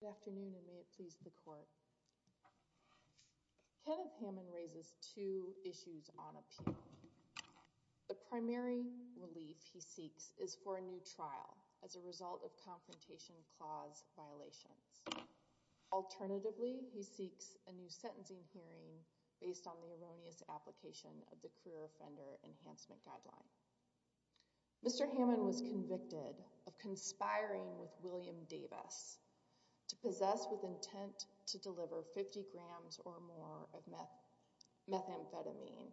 Good afternoon and may it please the court. Kenneth Hamann raises two issues on appeal. The primary relief he seeks is for a new trial as a result of confrontation clause violations. Alternatively, he seeks a new sentencing hearing based on the erroneous application of the Career Offender Enhancement Guideline. Mr. Hamann was convicted of conspiring with William Davis to possess with intent to deliver 50 grams or more of methamphetamine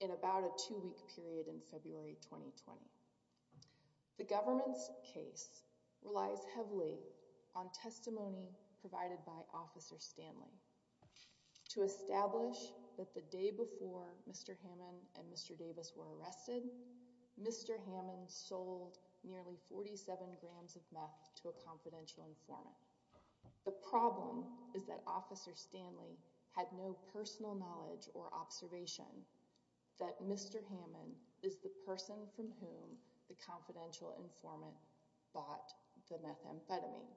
in about a two week period in February 2020. The government's case relies heavily on testimony provided by Officer Stanley. To establish that the day before Mr. Hamann and Mr. Davis were arrested, Mr. Hamann sold nearly 47 grams of meth to a confidential informant. The problem is that Officer Stanley had no personal knowledge or observation that Mr. Hamann is the person from whom the confidential informant bought the methamphetamine.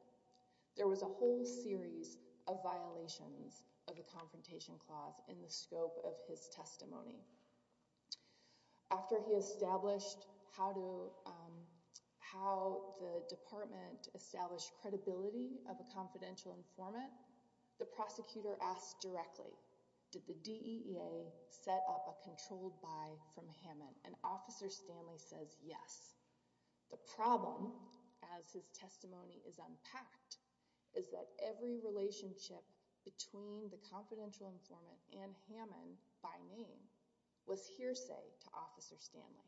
There was a whole series of violations of the confrontation clause in the scope of his testimony. After he established how the department established credibility of a confidential informant, the prosecutor asked directly, did the DEA set up a controlled buy from Hamann? And Officer Stanley says yes. The problem, as his testimony is unpacked, is that every relationship between the confidential informant and Hamann by name was hearsay to Officer Stanley.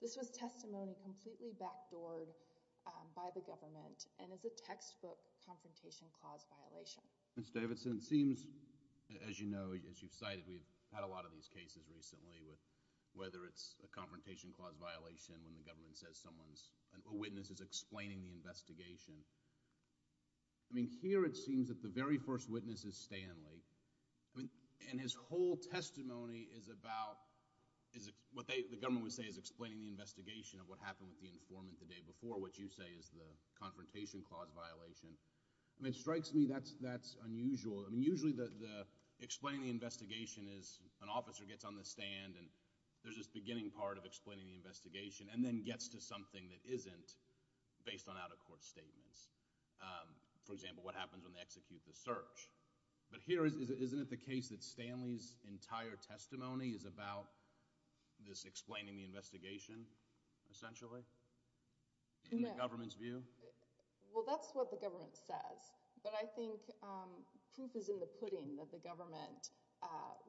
This was testimony completely backdoored by the government and is a textbook confrontation clause violation. Mr. Davidson, it seems, as you know, as you've cited, we've had a lot of these cases recently, whether it's a confrontation clause violation when the government says a witness is explaining the investigation. I mean, here it seems that the very first witness is Stanley, and his whole testimony is about, what the government would say is explaining the investigation of what happened with the informant the day before, which you say is the confrontation clause violation. I mean, it strikes me that's unusual. I mean, usually the explaining the investigation is an officer gets on the stand, and there's this beginning part of explaining the investigation, and then gets to something that isn't based on out-of-court statements. For example, what happens when they execute the search. But here, isn't it the case that Stanley's entire testimony is about this explaining the investigation, essentially, in the government's view? Well, that's what the government says. But I think proof is in the pudding that the government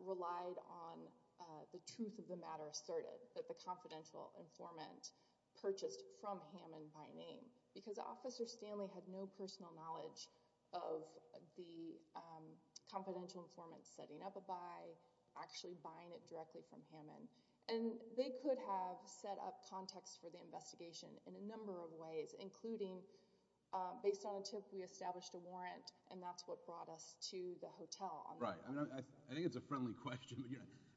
relied on the truth of the matter asserted, that the confidential informant purchased from Hamann by name, because Officer Stanley had no personal knowledge of the confidential informant setting up a buy, actually buying it directly from Hamann. And they could have set up context for the investigation in a number of ways, including based on a tip we established a warrant, and that's what brought us to the hotel. Right. I think it's a friendly question.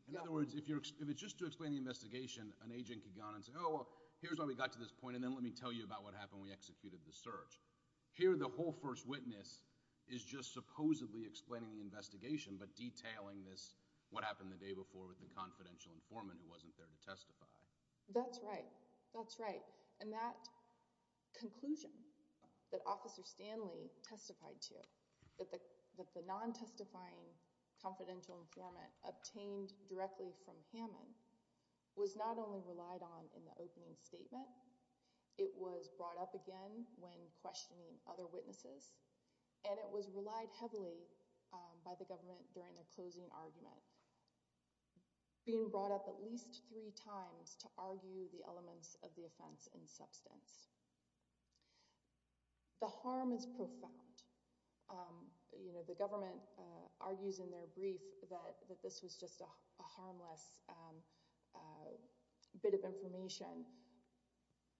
In other words, if it's just to explain the investigation, an agent could go on and say, oh, well, here's why we got to this point, and then let me tell you about what happened when we executed the search. Here, the whole first witness is just supposedly explaining the investigation, but detailing this what happened the day before with the confidential informant who wasn't there to testify. That's right. That's right. And that conclusion that Officer Stanley testified to, that the non-testifying confidential informant obtained directly from Hamann, was not only relied on in the opening statement, it was brought up again when questioning other witnesses, and it was relied heavily by the government during the closing argument, being brought up at least three times to argue the elements of the offense in substance. The harm is profound. The government argues in their brief that this was just a harmless bit of information,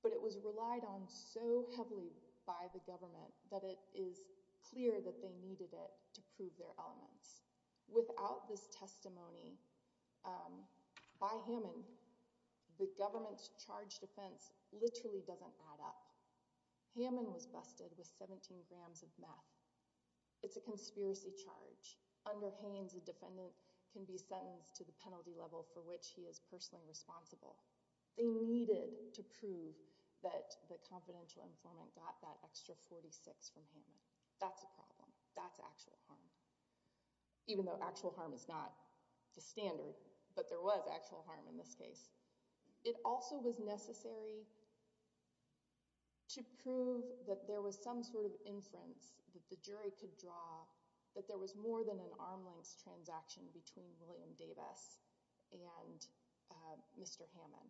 but it was relied on so heavily by the government that it is clear that they needed it to prove their elements. Without this testimony by Hamann, the government's charged offense literally doesn't add up. Hamann was busted with 17 grams of meth. It's a conspiracy charge. Under Haynes, a defendant can be sentenced to the penalty level for which he is personally responsible. They needed to prove that the confidential informant got that extra 46 from Hamann. That's a problem. That's actual harm. Even though actual harm is not the standard, but there was actual harm in this case. It also was necessary to prove that there was some sort of inference that the jury could draw that there was more than an arm-length transaction between William Davis and Mr. Hamann.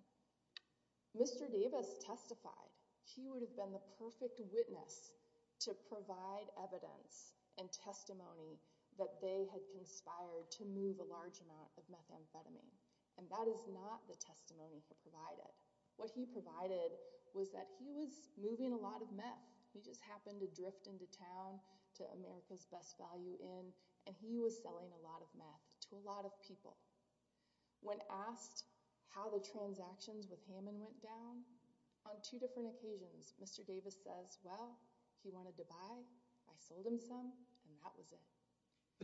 Mr. Davis testified he would have been the perfect witness to provide evidence and testimony that they had conspired to move a large amount of methamphetamine, and that is not the testimony he provided. What he provided was that he was moving a lot of meth. He just happened to drift into town to America's Best Value Inn, and he was selling a lot of meth to a lot of people. When asked how the transactions with Hamann went down, on two different occasions, Mr. Davis says, well, he wanted to buy, I sold him some, and that was it.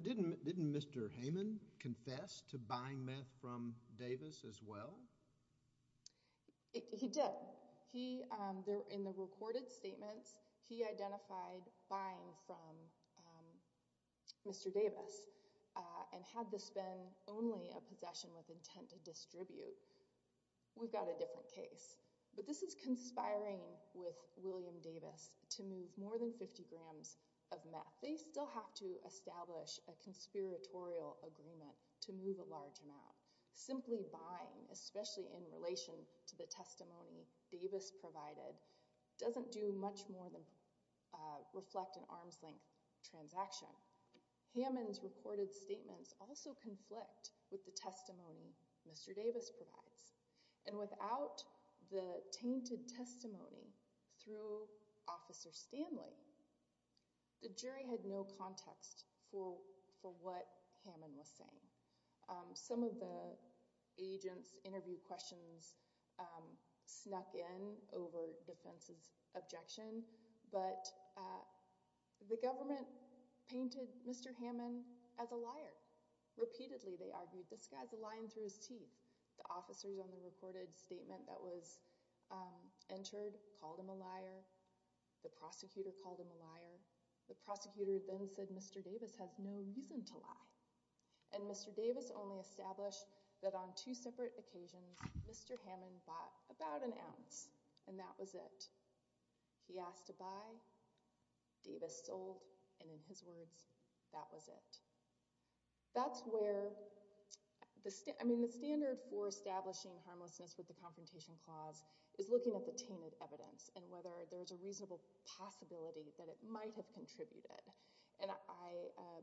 Didn't Mr. Hamann confess to buying meth from Davis as well? He did. In the recorded statements, he identified buying from Mr. Davis. And had this been only a possession with intent to distribute, we've got a different case. But this is conspiring with William Davis to move more than 50 grams of meth. They still have to establish a conspiratorial agreement to move a large amount. Simply buying, especially in relation to the testimony Davis provided, doesn't do much more than reflect an arm's-length transaction. Hamann's recorded statements also conflict with the testimony Mr. Davis provides. And without the tainted testimony through Officer Stanley, the jury had no context for what Hamann was saying. Some of the agents' interview questions snuck in over defense's objection, but the government painted Mr. Hamann as a liar. Repeatedly, they argued, this guy's a lion through his teeth. The officers on the recorded statement that was entered called him a liar. The prosecutor called him a liar. The prosecutor then said Mr. Davis has no reason to lie. And Mr. Davis only established that on two separate occasions, Mr. Hamann bought about an ounce, and that was it. He asked to buy, Davis sold, and in his words, that was it. That's where the standard for establishing harmlessness with the Confrontation Clause is looking at the tainted evidence and whether there's a reasonable possibility that it might have contributed. And I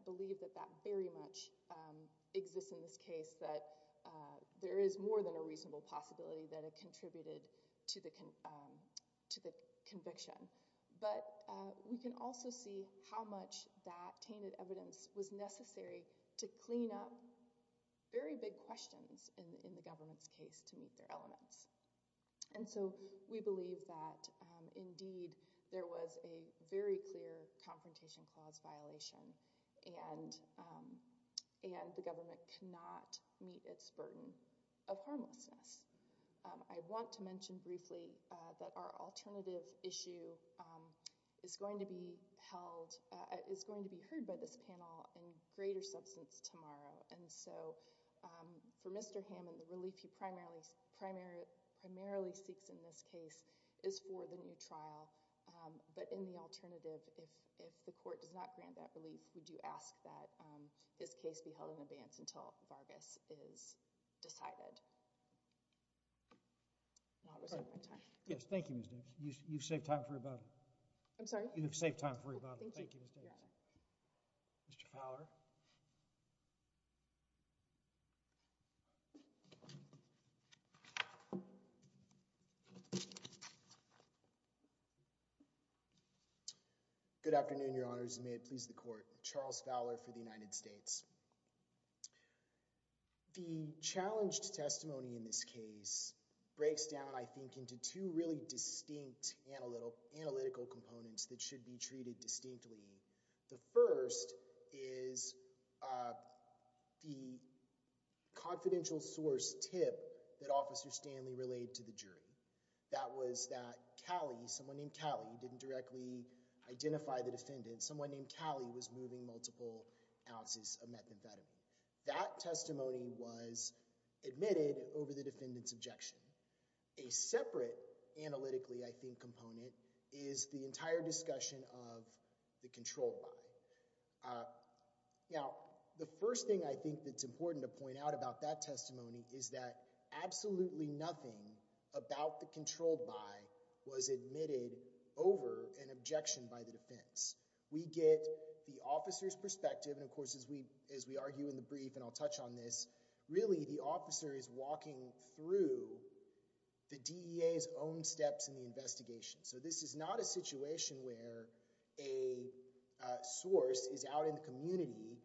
believe that that very much exists in this case, that there is more than a reasonable possibility that it contributed to the conviction. But we can also see how much that tainted evidence was necessary to clean up very big questions in the government's case to meet their elements. And so we believe that, indeed, there was a very clear Confrontation Clause violation and the government cannot meet its burden of harmlessness. I want to mention briefly that our alternative issue is going to be heard by this panel in greater substance tomorrow. And so for Mr. Hamann, the relief he primarily seeks in this case is for the new trial, but in the alternative, if the court does not grant that relief, would you ask that this case be held in advance until Vargas is decided? Yes, thank you, Ms. Davis. You've saved time for rebuttal. I'm sorry? You've saved time for rebuttal. Thank you, Ms. Davis. Mr. Fowler? Good afternoon, Your Honors, and may it please the court. Charles Fowler for the United States. The challenged testimony in this case breaks down, I think, into two really distinct analytical components that should be treated distinctly. The first is the confidential source tip that Officer Stanley relayed to the jury. That was that Callie, someone named Callie, didn't directly identify the defendant. Someone named Callie was moving multiple ounces of methamphetamine. That testimony was admitted over the defendant's objection. A separate analytically, I think, component is the entire discussion of the controlled buy. Now, the first thing I think that's important to point out about that testimony is that absolutely nothing about the controlled buy was admitted over an objection by the defense. We get the officer's perspective, and of course as we argue in the brief, and I'll touch on this, really the officer is walking through the DEA's own steps in the investigation. So this is not a situation where a source is out in the community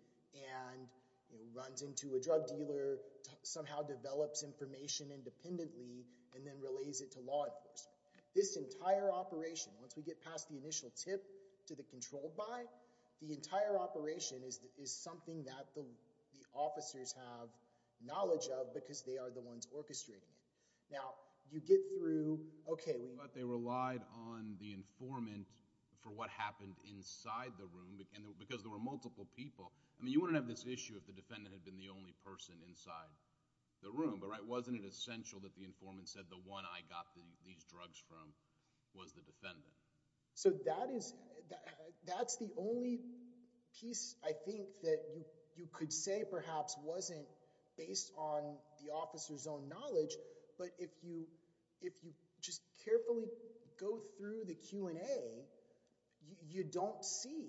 and runs into a drug dealer, somehow develops information independently, and then relays it to law enforcement. This entire operation, once we get past the initial tip to the controlled buy, the entire operation is something that the officers have knowledge of because they are the ones orchestrating it. Now, you get through... But they relied on the informant for what happened inside the room because there were multiple people. I mean, you wouldn't have this issue if the defendant had been the only person inside the room. But wasn't it essential that the informant said, the one I got these drugs from was the defendant? So that is... That's the only piece I think that you could say perhaps wasn't based on the officer's own knowledge, but if you just carefully go through the Q&A, you don't see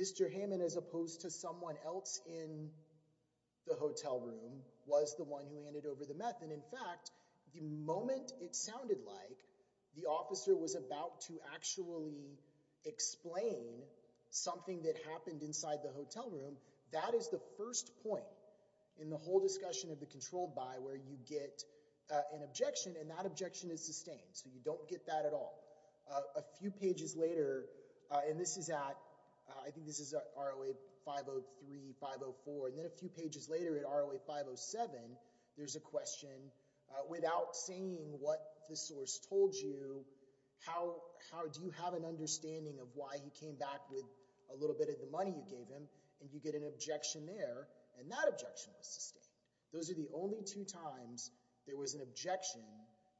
Mr. Hammond as opposed to someone else in the hotel room was the one who handed over the meth. And in fact, the moment it sounded like the officer was about to actually explain something that happened inside the hotel room, that is the first point in the whole discussion of the controlled buy where you get an objection, and that objection is sustained. So you don't get that at all. A few pages later, and this is at... I think this is at ROA 503, 504, and then a few pages later at ROA 507, there's a question without saying what the source told you, how do you have an understanding of why he came back with a little bit of the money you gave him, and you get an objection there, and that objection was sustained. Those are the only two times there was an objection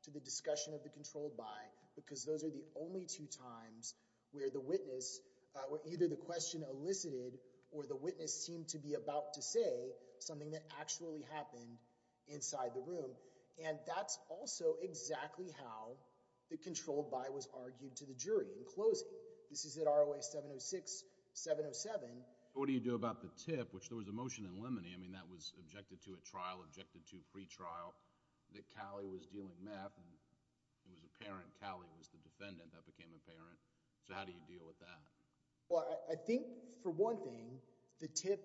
to the discussion of the controlled buy because those are the only two times where the witness, where either the question elicited or the witness seemed to be about to say something that actually happened inside the room, and that's also exactly how the controlled buy was argued to the jury in closing. This is at ROA 706, 707. What do you do about the tip, which there was a motion in limine, I mean, that was objected to at trial, objected to pretrial, that Callie was dealing meth, and it was apparent Callie was the defendant, that became apparent, so how do you deal with that? Well, I think, for one thing, the tip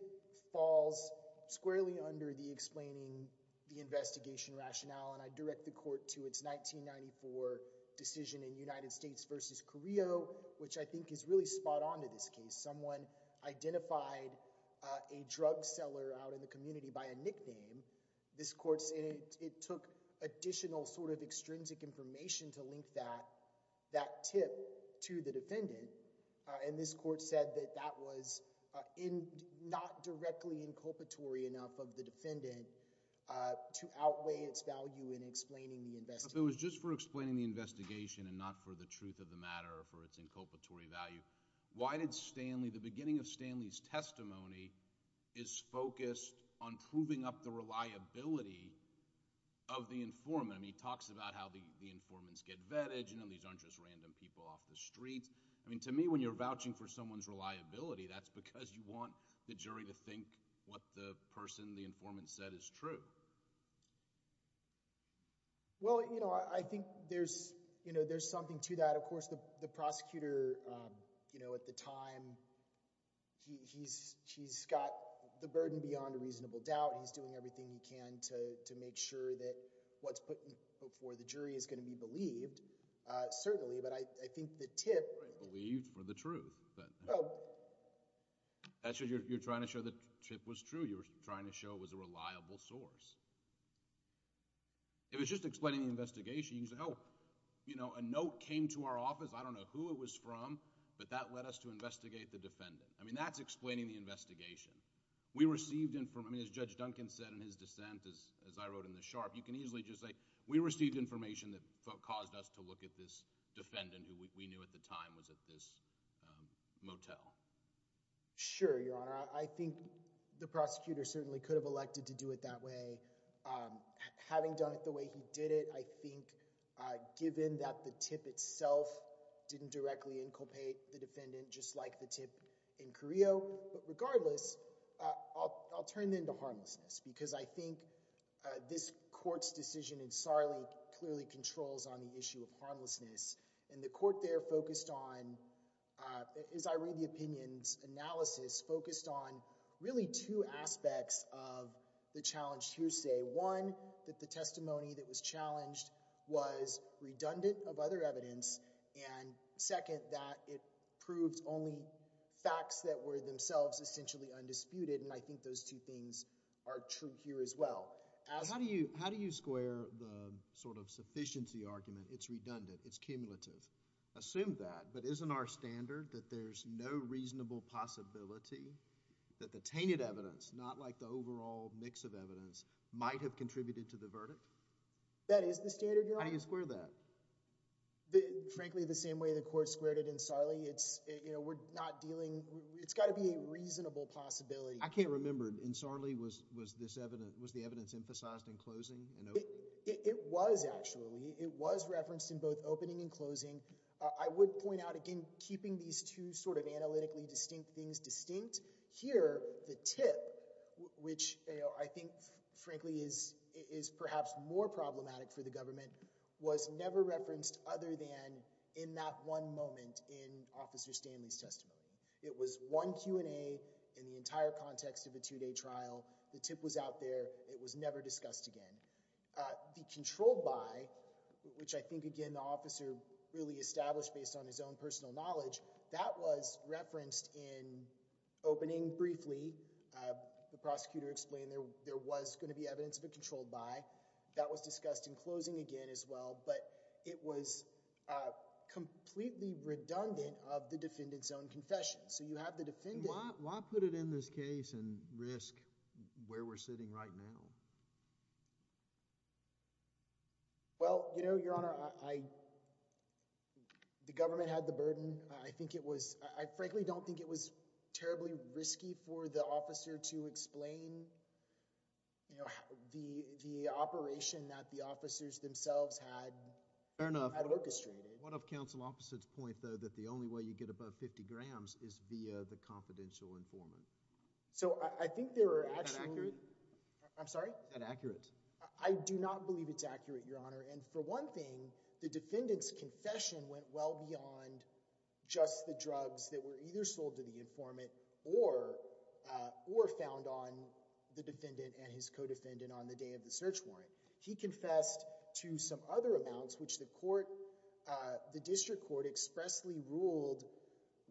falls squarely under the explaining the investigation rationale, and I direct the court to its 1994 decision in United States v. Carrillo, which I think is really spot-on to this case. Someone identified a drug seller out in the community by a nickname. This court said it took additional sort of extrinsic information to link that tip to the defendant, and this court said that that was not directly inculpatory enough of the defendant to outweigh its value in explaining the investigation. If it was just for explaining the investigation and not for the truth of the matter or for its inculpatory value, why did Stanley, the beginning of Stanley's testimony is focused on proving up the reliability of the informant? I mean, he talks about how the informants get vetted, you know, these aren't just random people off the streets. I mean, to me, when you're vouching for someone's reliability, that's because you want the jury to think what the person, the informant said is true. Well, you know, I think there's, you know, there's something to that. Of course, the prosecutor, you know, at the time, he's got the burden beyond a reasonable doubt. He's doing everything he can to make sure that what's put before the jury is going to be believed, certainly. But I think the tip... Believed for the truth. That's what you're trying to show, the tip was true. You're trying to show it was a reliable source. If it's just explaining the investigation, you can say, oh, you know, a note came to our office. I don't know who it was from, but that led us to investigate the defendant. I mean, that's explaining the investigation. We received information... I mean, as Judge Duncan said in his dissent, as I wrote in the sharp, you can easily just say, we received information that caused us to look at this defendant who we knew at the time was at this motel. Sure, Your Honor. I think the prosecutor certainly could have elected to do it that way. Having done it the way he did it, I think given that the tip itself didn't directly inculpate the defendant, just like the tip in Carrillo. But regardless, I'll turn it into harmlessness. Because I think this court's decision in Sarli clearly controls on the issue of harmlessness. And the court there focused on, as I read the opinion's analysis, focused on really two aspects of the challenged hearsay. One, that the testimony that was challenged was redundant of other evidence. And second, that it proved only facts that were themselves essentially undisputed. And I think those two things are true here as well. How do you square the sort of sufficiency argument, it's redundant, it's cumulative? Assume that, but isn't our standard that there's no reasonable possibility that the tainted evidence, not like the overall mix of evidence, might have contributed to the verdict? That is the standard, Your Honor. How do you square that? Frankly, the same way the court squared it in Sarli. It's, you know, we're not dealing... It's got to be a reasonable possibility. I can't remember. In Sarli, was the evidence emphasized in closing and opening? It was, actually. It was referenced in both opening and closing. I would point out, again, keeping these two sort of analytically distinct things distinct, here, the tip, which I think, frankly, is perhaps more problematic for the government, was never referenced other than in that one moment in Officer Stanley's testimony. It was one Q&A in the entire context of a two-day trial. The tip was out there. It was never discussed again. The controlled by, which I think, again, the officer really established based on his own personal knowledge, that was referenced in opening briefly. The prosecutor explained there was going to be evidence of a controlled by. That was discussed in closing again, as well. But it was completely redundant of the defendant's own confession. So you have the defendant... Why put it in this case and risk where we're sitting right now? Well, you know, Your Honor, I... I frankly don't think it was terribly risky for the officer to explain the operation that the officers themselves had orchestrated. Fair enough. What of counsel officers' point, though, that the only way you get above 50 grams is via the confidential informant? So I think there were actually... Is that accurate? I'm sorry? Is that accurate? I do not believe it's accurate, Your Honor. And for one thing, the defendant's confession went well beyond just the drugs that were either sold to the informant or found on the defendant and his co-defendant on the day of the search warrant. He confessed to some other amounts which the court... the district court expressly ruled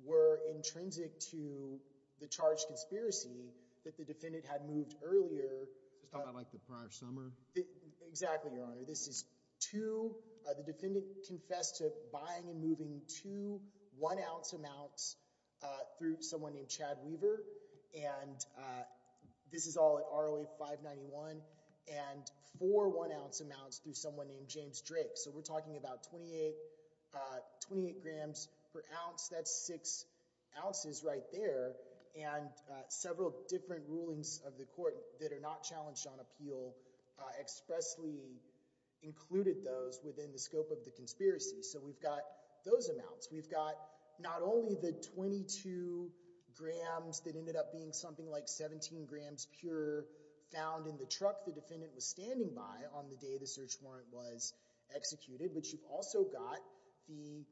were intrinsic to the charged conspiracy that the defendant had moved earlier... Just talking about, like, the prior summer? Exactly, Your Honor. This is two... The defendant confessed to buying and moving two one-ounce amounts through someone named Chad Weaver, and this is all at ROA 591, and four one-ounce amounts through someone named James Drake. So we're talking about 28... 28 grams per ounce. That's six ounces right there. And several different rulings of the court that are not challenged on appeal expressly included those within the scope of the conspiracy. So we've got those amounts. We've got not only the 22 grams that ended up being something like 17 grams pure found in the truck the defendant was standing by on the day the search warrant was executed, but you've also got the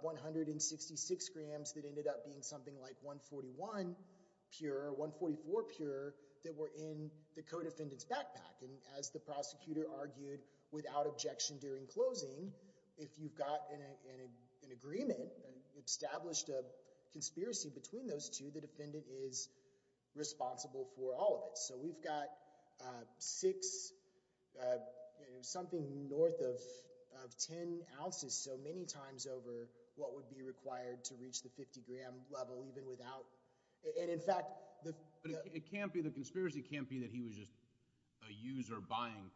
166 grams that ended up being something like 141 pure, 144 pure, that were in the co-defendant's backpack. And as the prosecutor argued without objection during closing, if you've got an agreement, established a conspiracy between those two, the defendant is responsible for all of it. So we've got six... something north of 10 ounces, so many times over what would be required to reach the 50-gram level even without... But the conspiracy can't be that he was just a user buying,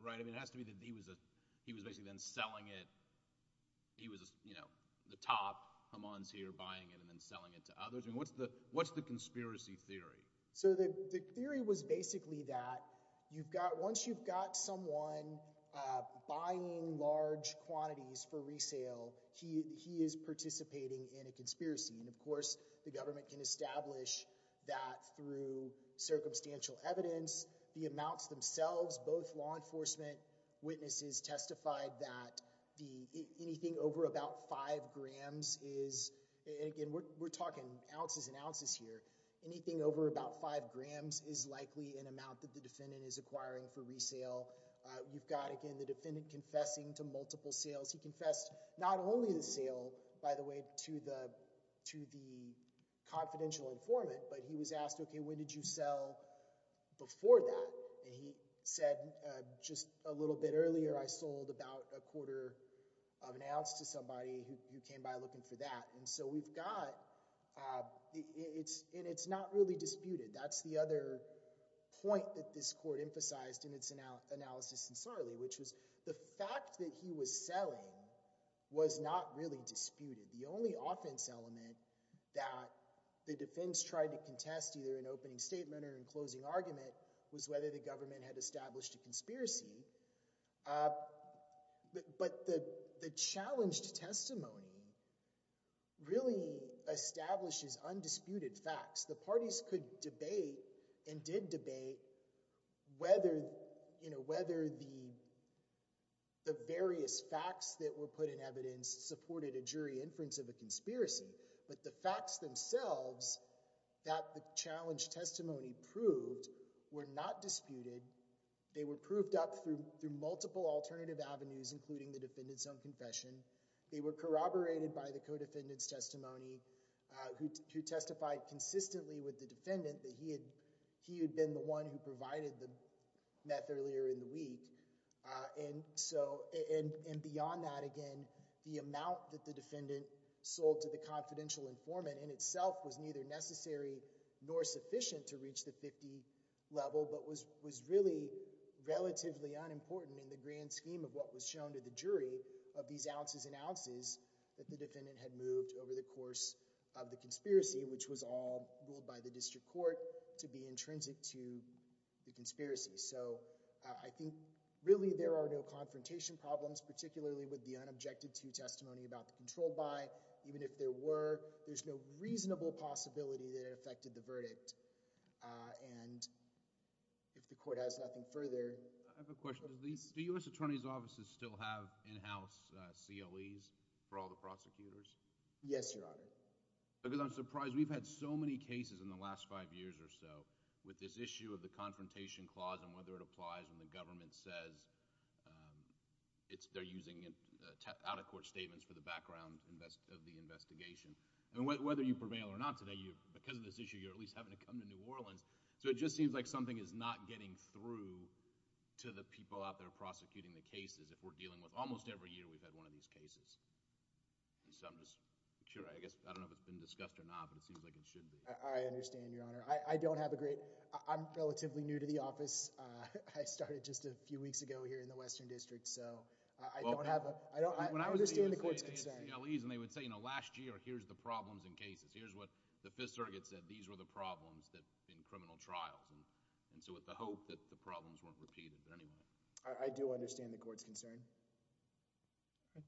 right? It has to be that he was basically then selling it. He was the top. Haman's here buying it and then selling it to others. What's the conspiracy theory? So the theory was basically that once you've got someone buying large quantities for resale, he is participating in a conspiracy. And of course, the government can establish that through circumstantial evidence, the amounts themselves, both law enforcement witnesses testified that anything over about 5 grams is... Again, we're talking ounces and ounces here. Anything over about 5 grams is likely an amount that the defendant is acquiring for resale. You've got, again, the defendant confessing to multiple sales. He confessed not only to the sale, by the way, to the confidential informant, but he was asked, okay, when did you sell before that? And he said, just a little bit earlier, I sold about a quarter of an ounce to somebody who came by looking for that. And so we've got... And it's not really disputed. That's the other point that this court emphasized in its analysis in Sarli, which was the fact that he was selling was not really disputed. The only offense element that the defense tried to contest either in opening statement or in closing argument was whether the government had established a conspiracy. But the challenged testimony really establishes undisputed facts. The parties could debate and did debate whether the various facts that were put in evidence supported a jury inference of a conspiracy. But the facts themselves that the challenged testimony proved were not disputed. They were proved up through multiple alternative avenues, including the defendant's own confession. They were corroborated by the co-defendant's testimony who testified consistently with the defendant that he had been the one who provided the meth earlier in the week. And beyond that, again, the amount that the defendant sold to the confidential informant in itself was neither necessary nor sufficient to reach the 50 level, but was really relatively unimportant in the grand scheme of what was shown to the jury of these ounces and ounces that the defendant had moved over the course of the conspiracy, which was all ruled by the district court to be intrinsic to the conspiracy. So I think really there are no confrontation problems, particularly with the unobjected to testimony about the control buy. Even if there were, there's no reasonable possibility that it affected the verdict. And if the court has nothing further. I have a question. Do U.S. attorney's offices still have in-house COEs for all the prosecutors? Yes, your honor. Because I'm surprised we've had so many cases in the last five years or so with this issue of the confrontation clause and whether it applies when the government says they're using out-of-court statements for the background of the investigation. And whether you prevail or not today, because of this issue, you're at least having to come to New Orleans. So it just seems like something is not getting through to the people out there prosecuting the cases if we're dealing with, almost every year we've had one of these cases. And so I'm just, I guess I don't know if it's been discussed or not, but it seems like it should be. I understand, your honor. I don't have a great, I'm relatively new to the office. I started just a few weeks ago here in the Western District, so I don't have a... I understand the court's concern. And they would say, you know, last year, here's the problems in cases. Here's what the Fifth Circuit said. These were the problems in criminal trials. And so with the hope that the problems weren't repeated. But anyway... I do understand the court's concern.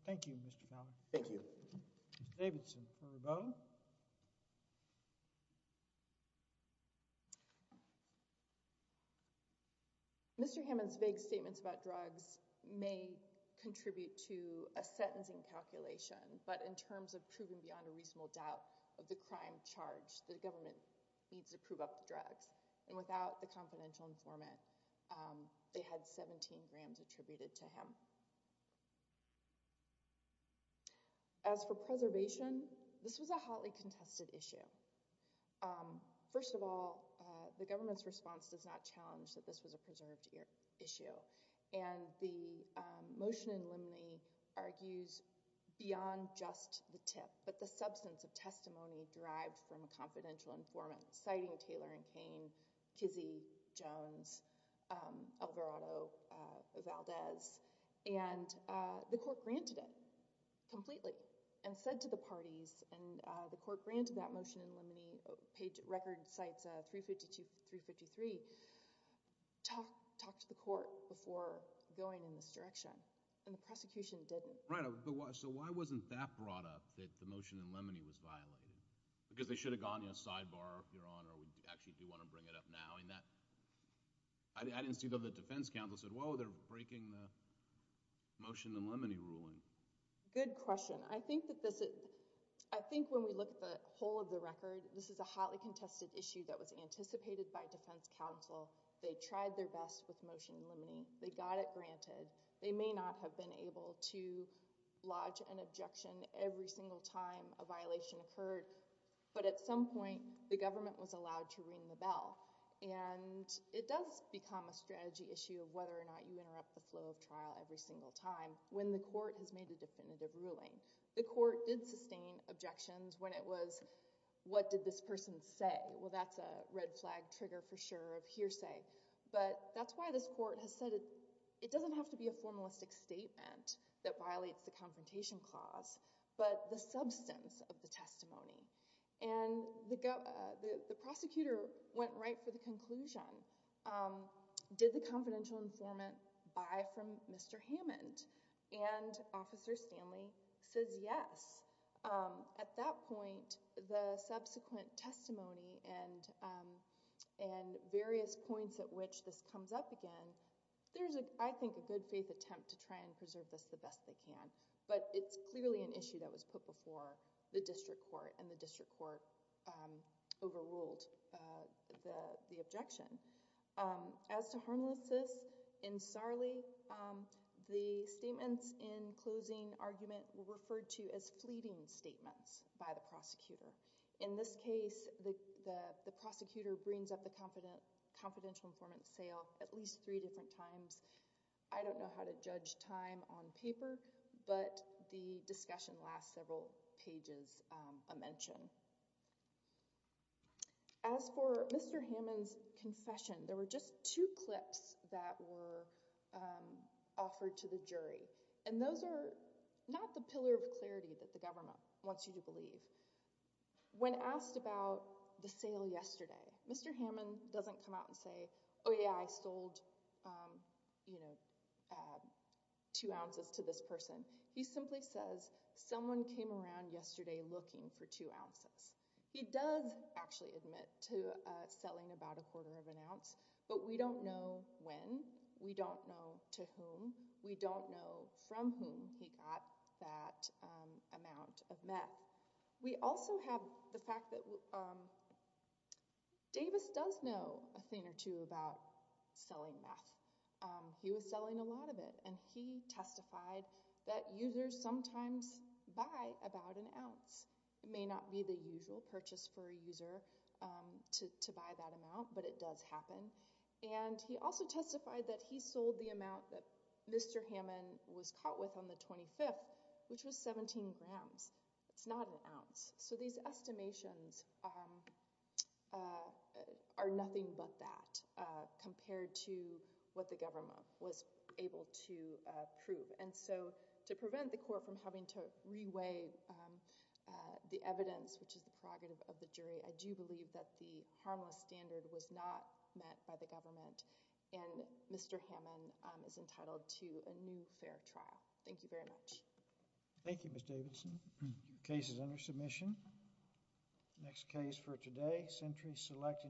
Thank you, Mr. Fowler. Thank you. Mr. Davidson. Any further comment? Mr. Hammond's vague statements about drugs may contribute to a sentencing calculation, but in terms of proving beyond a reasonable doubt of the crime charge, the government needs to prove up the drugs. And without the confidential informant, they had 17 grams attributed to him. As for preservation, this was a hotly contested issue. First of all, the government's response does not challenge that this was a preserved issue. And the motion in limine argues beyond just the tip, but the substance of testimony derived from a confidential informant citing Taylor and Cain, Kizzee, Jones, Alvarado, Valdez, and the court granted it completely and said to the parties, and the court granted that motion in limine, page record cites 352, 353, talk to the court before going in this direction. And the prosecution didn't. Right. So why wasn't that brought up, that the motion in limine was violated? Because they should have gone, you know, sidebar, Your Honor, or we actually do want to bring it up now. And that... I didn't see that the defense counsel said, whoa, they're breaking the motion in limine ruling. Good question. I think when we look at the whole of the record, this is a hotly contested issue that was anticipated by defense counsel. They tried their best with motion in limine. They got it granted. They may not have been able to lodge an objection every single time a violation occurred. But at some point, the government was allowed to ring the bell. And it does become a strategy issue of whether or not you interrupt the flow of trial every single time when the court has made a definitive ruling. The court did sustain objections when it was, what did this person say? Well, that's a red flag trigger for sure of hearsay. But that's why this court has said, it doesn't have to be a formalistic statement that violates the Confrontation Clause, but the substance of the testimony. And the prosecutor went right for the conclusion. Did the confidential informant buy from Mr. Hammond? And Officer Stanley says yes. At that point, the subsequent testimony and various points at which this comes up again, there's, I think, a good faith attempt to try and preserve this the best they can. But it's clearly an issue that was put before the district court, and the district court overruled the objection. As to harmlessness in Sarley, the statements in closing argument were referred to as fleeting statements by the prosecutor. In this case, the prosecutor brings up the confidential informant's sale at least three different times. I don't know how to judge time on paper, but the discussion lasts several pages of mention. As for Mr. Hammond's confession, there were just two clips that were offered to the jury. And those are not the pillar of clarity that the government wants you to believe. When asked about the sale yesterday, Mr. Hammond doesn't come out and say, oh yeah, I sold two ounces to this person. He simply says, someone came around yesterday looking for two ounces. He does actually admit to selling about a quarter of an ounce, but we don't know when, we don't know to whom, we don't know from whom he got that amount of meth. We also have the fact that Davis does know a thing or two about selling meth. He was selling a lot of it, and he testified that users sometimes buy about an ounce. It may not be the usual purchase for a user to buy that amount, but it does happen. And he also testified that he sold the amount that Mr. Hammond was caught with on the 25th, which was 17 grams. It's not an ounce. So these estimations are nothing but that compared to what the government was able to prove. And so to prevent the court from having to reweigh the evidence, which is the prerogative of the jury, I do believe that the harmless standard was not met by the government, and Mr. Hammond is entitled to a new fair trial. Thank you very much. Thank you, Ms. Davidson. Case is under submission. Next case for today, Sentry Select Insurance.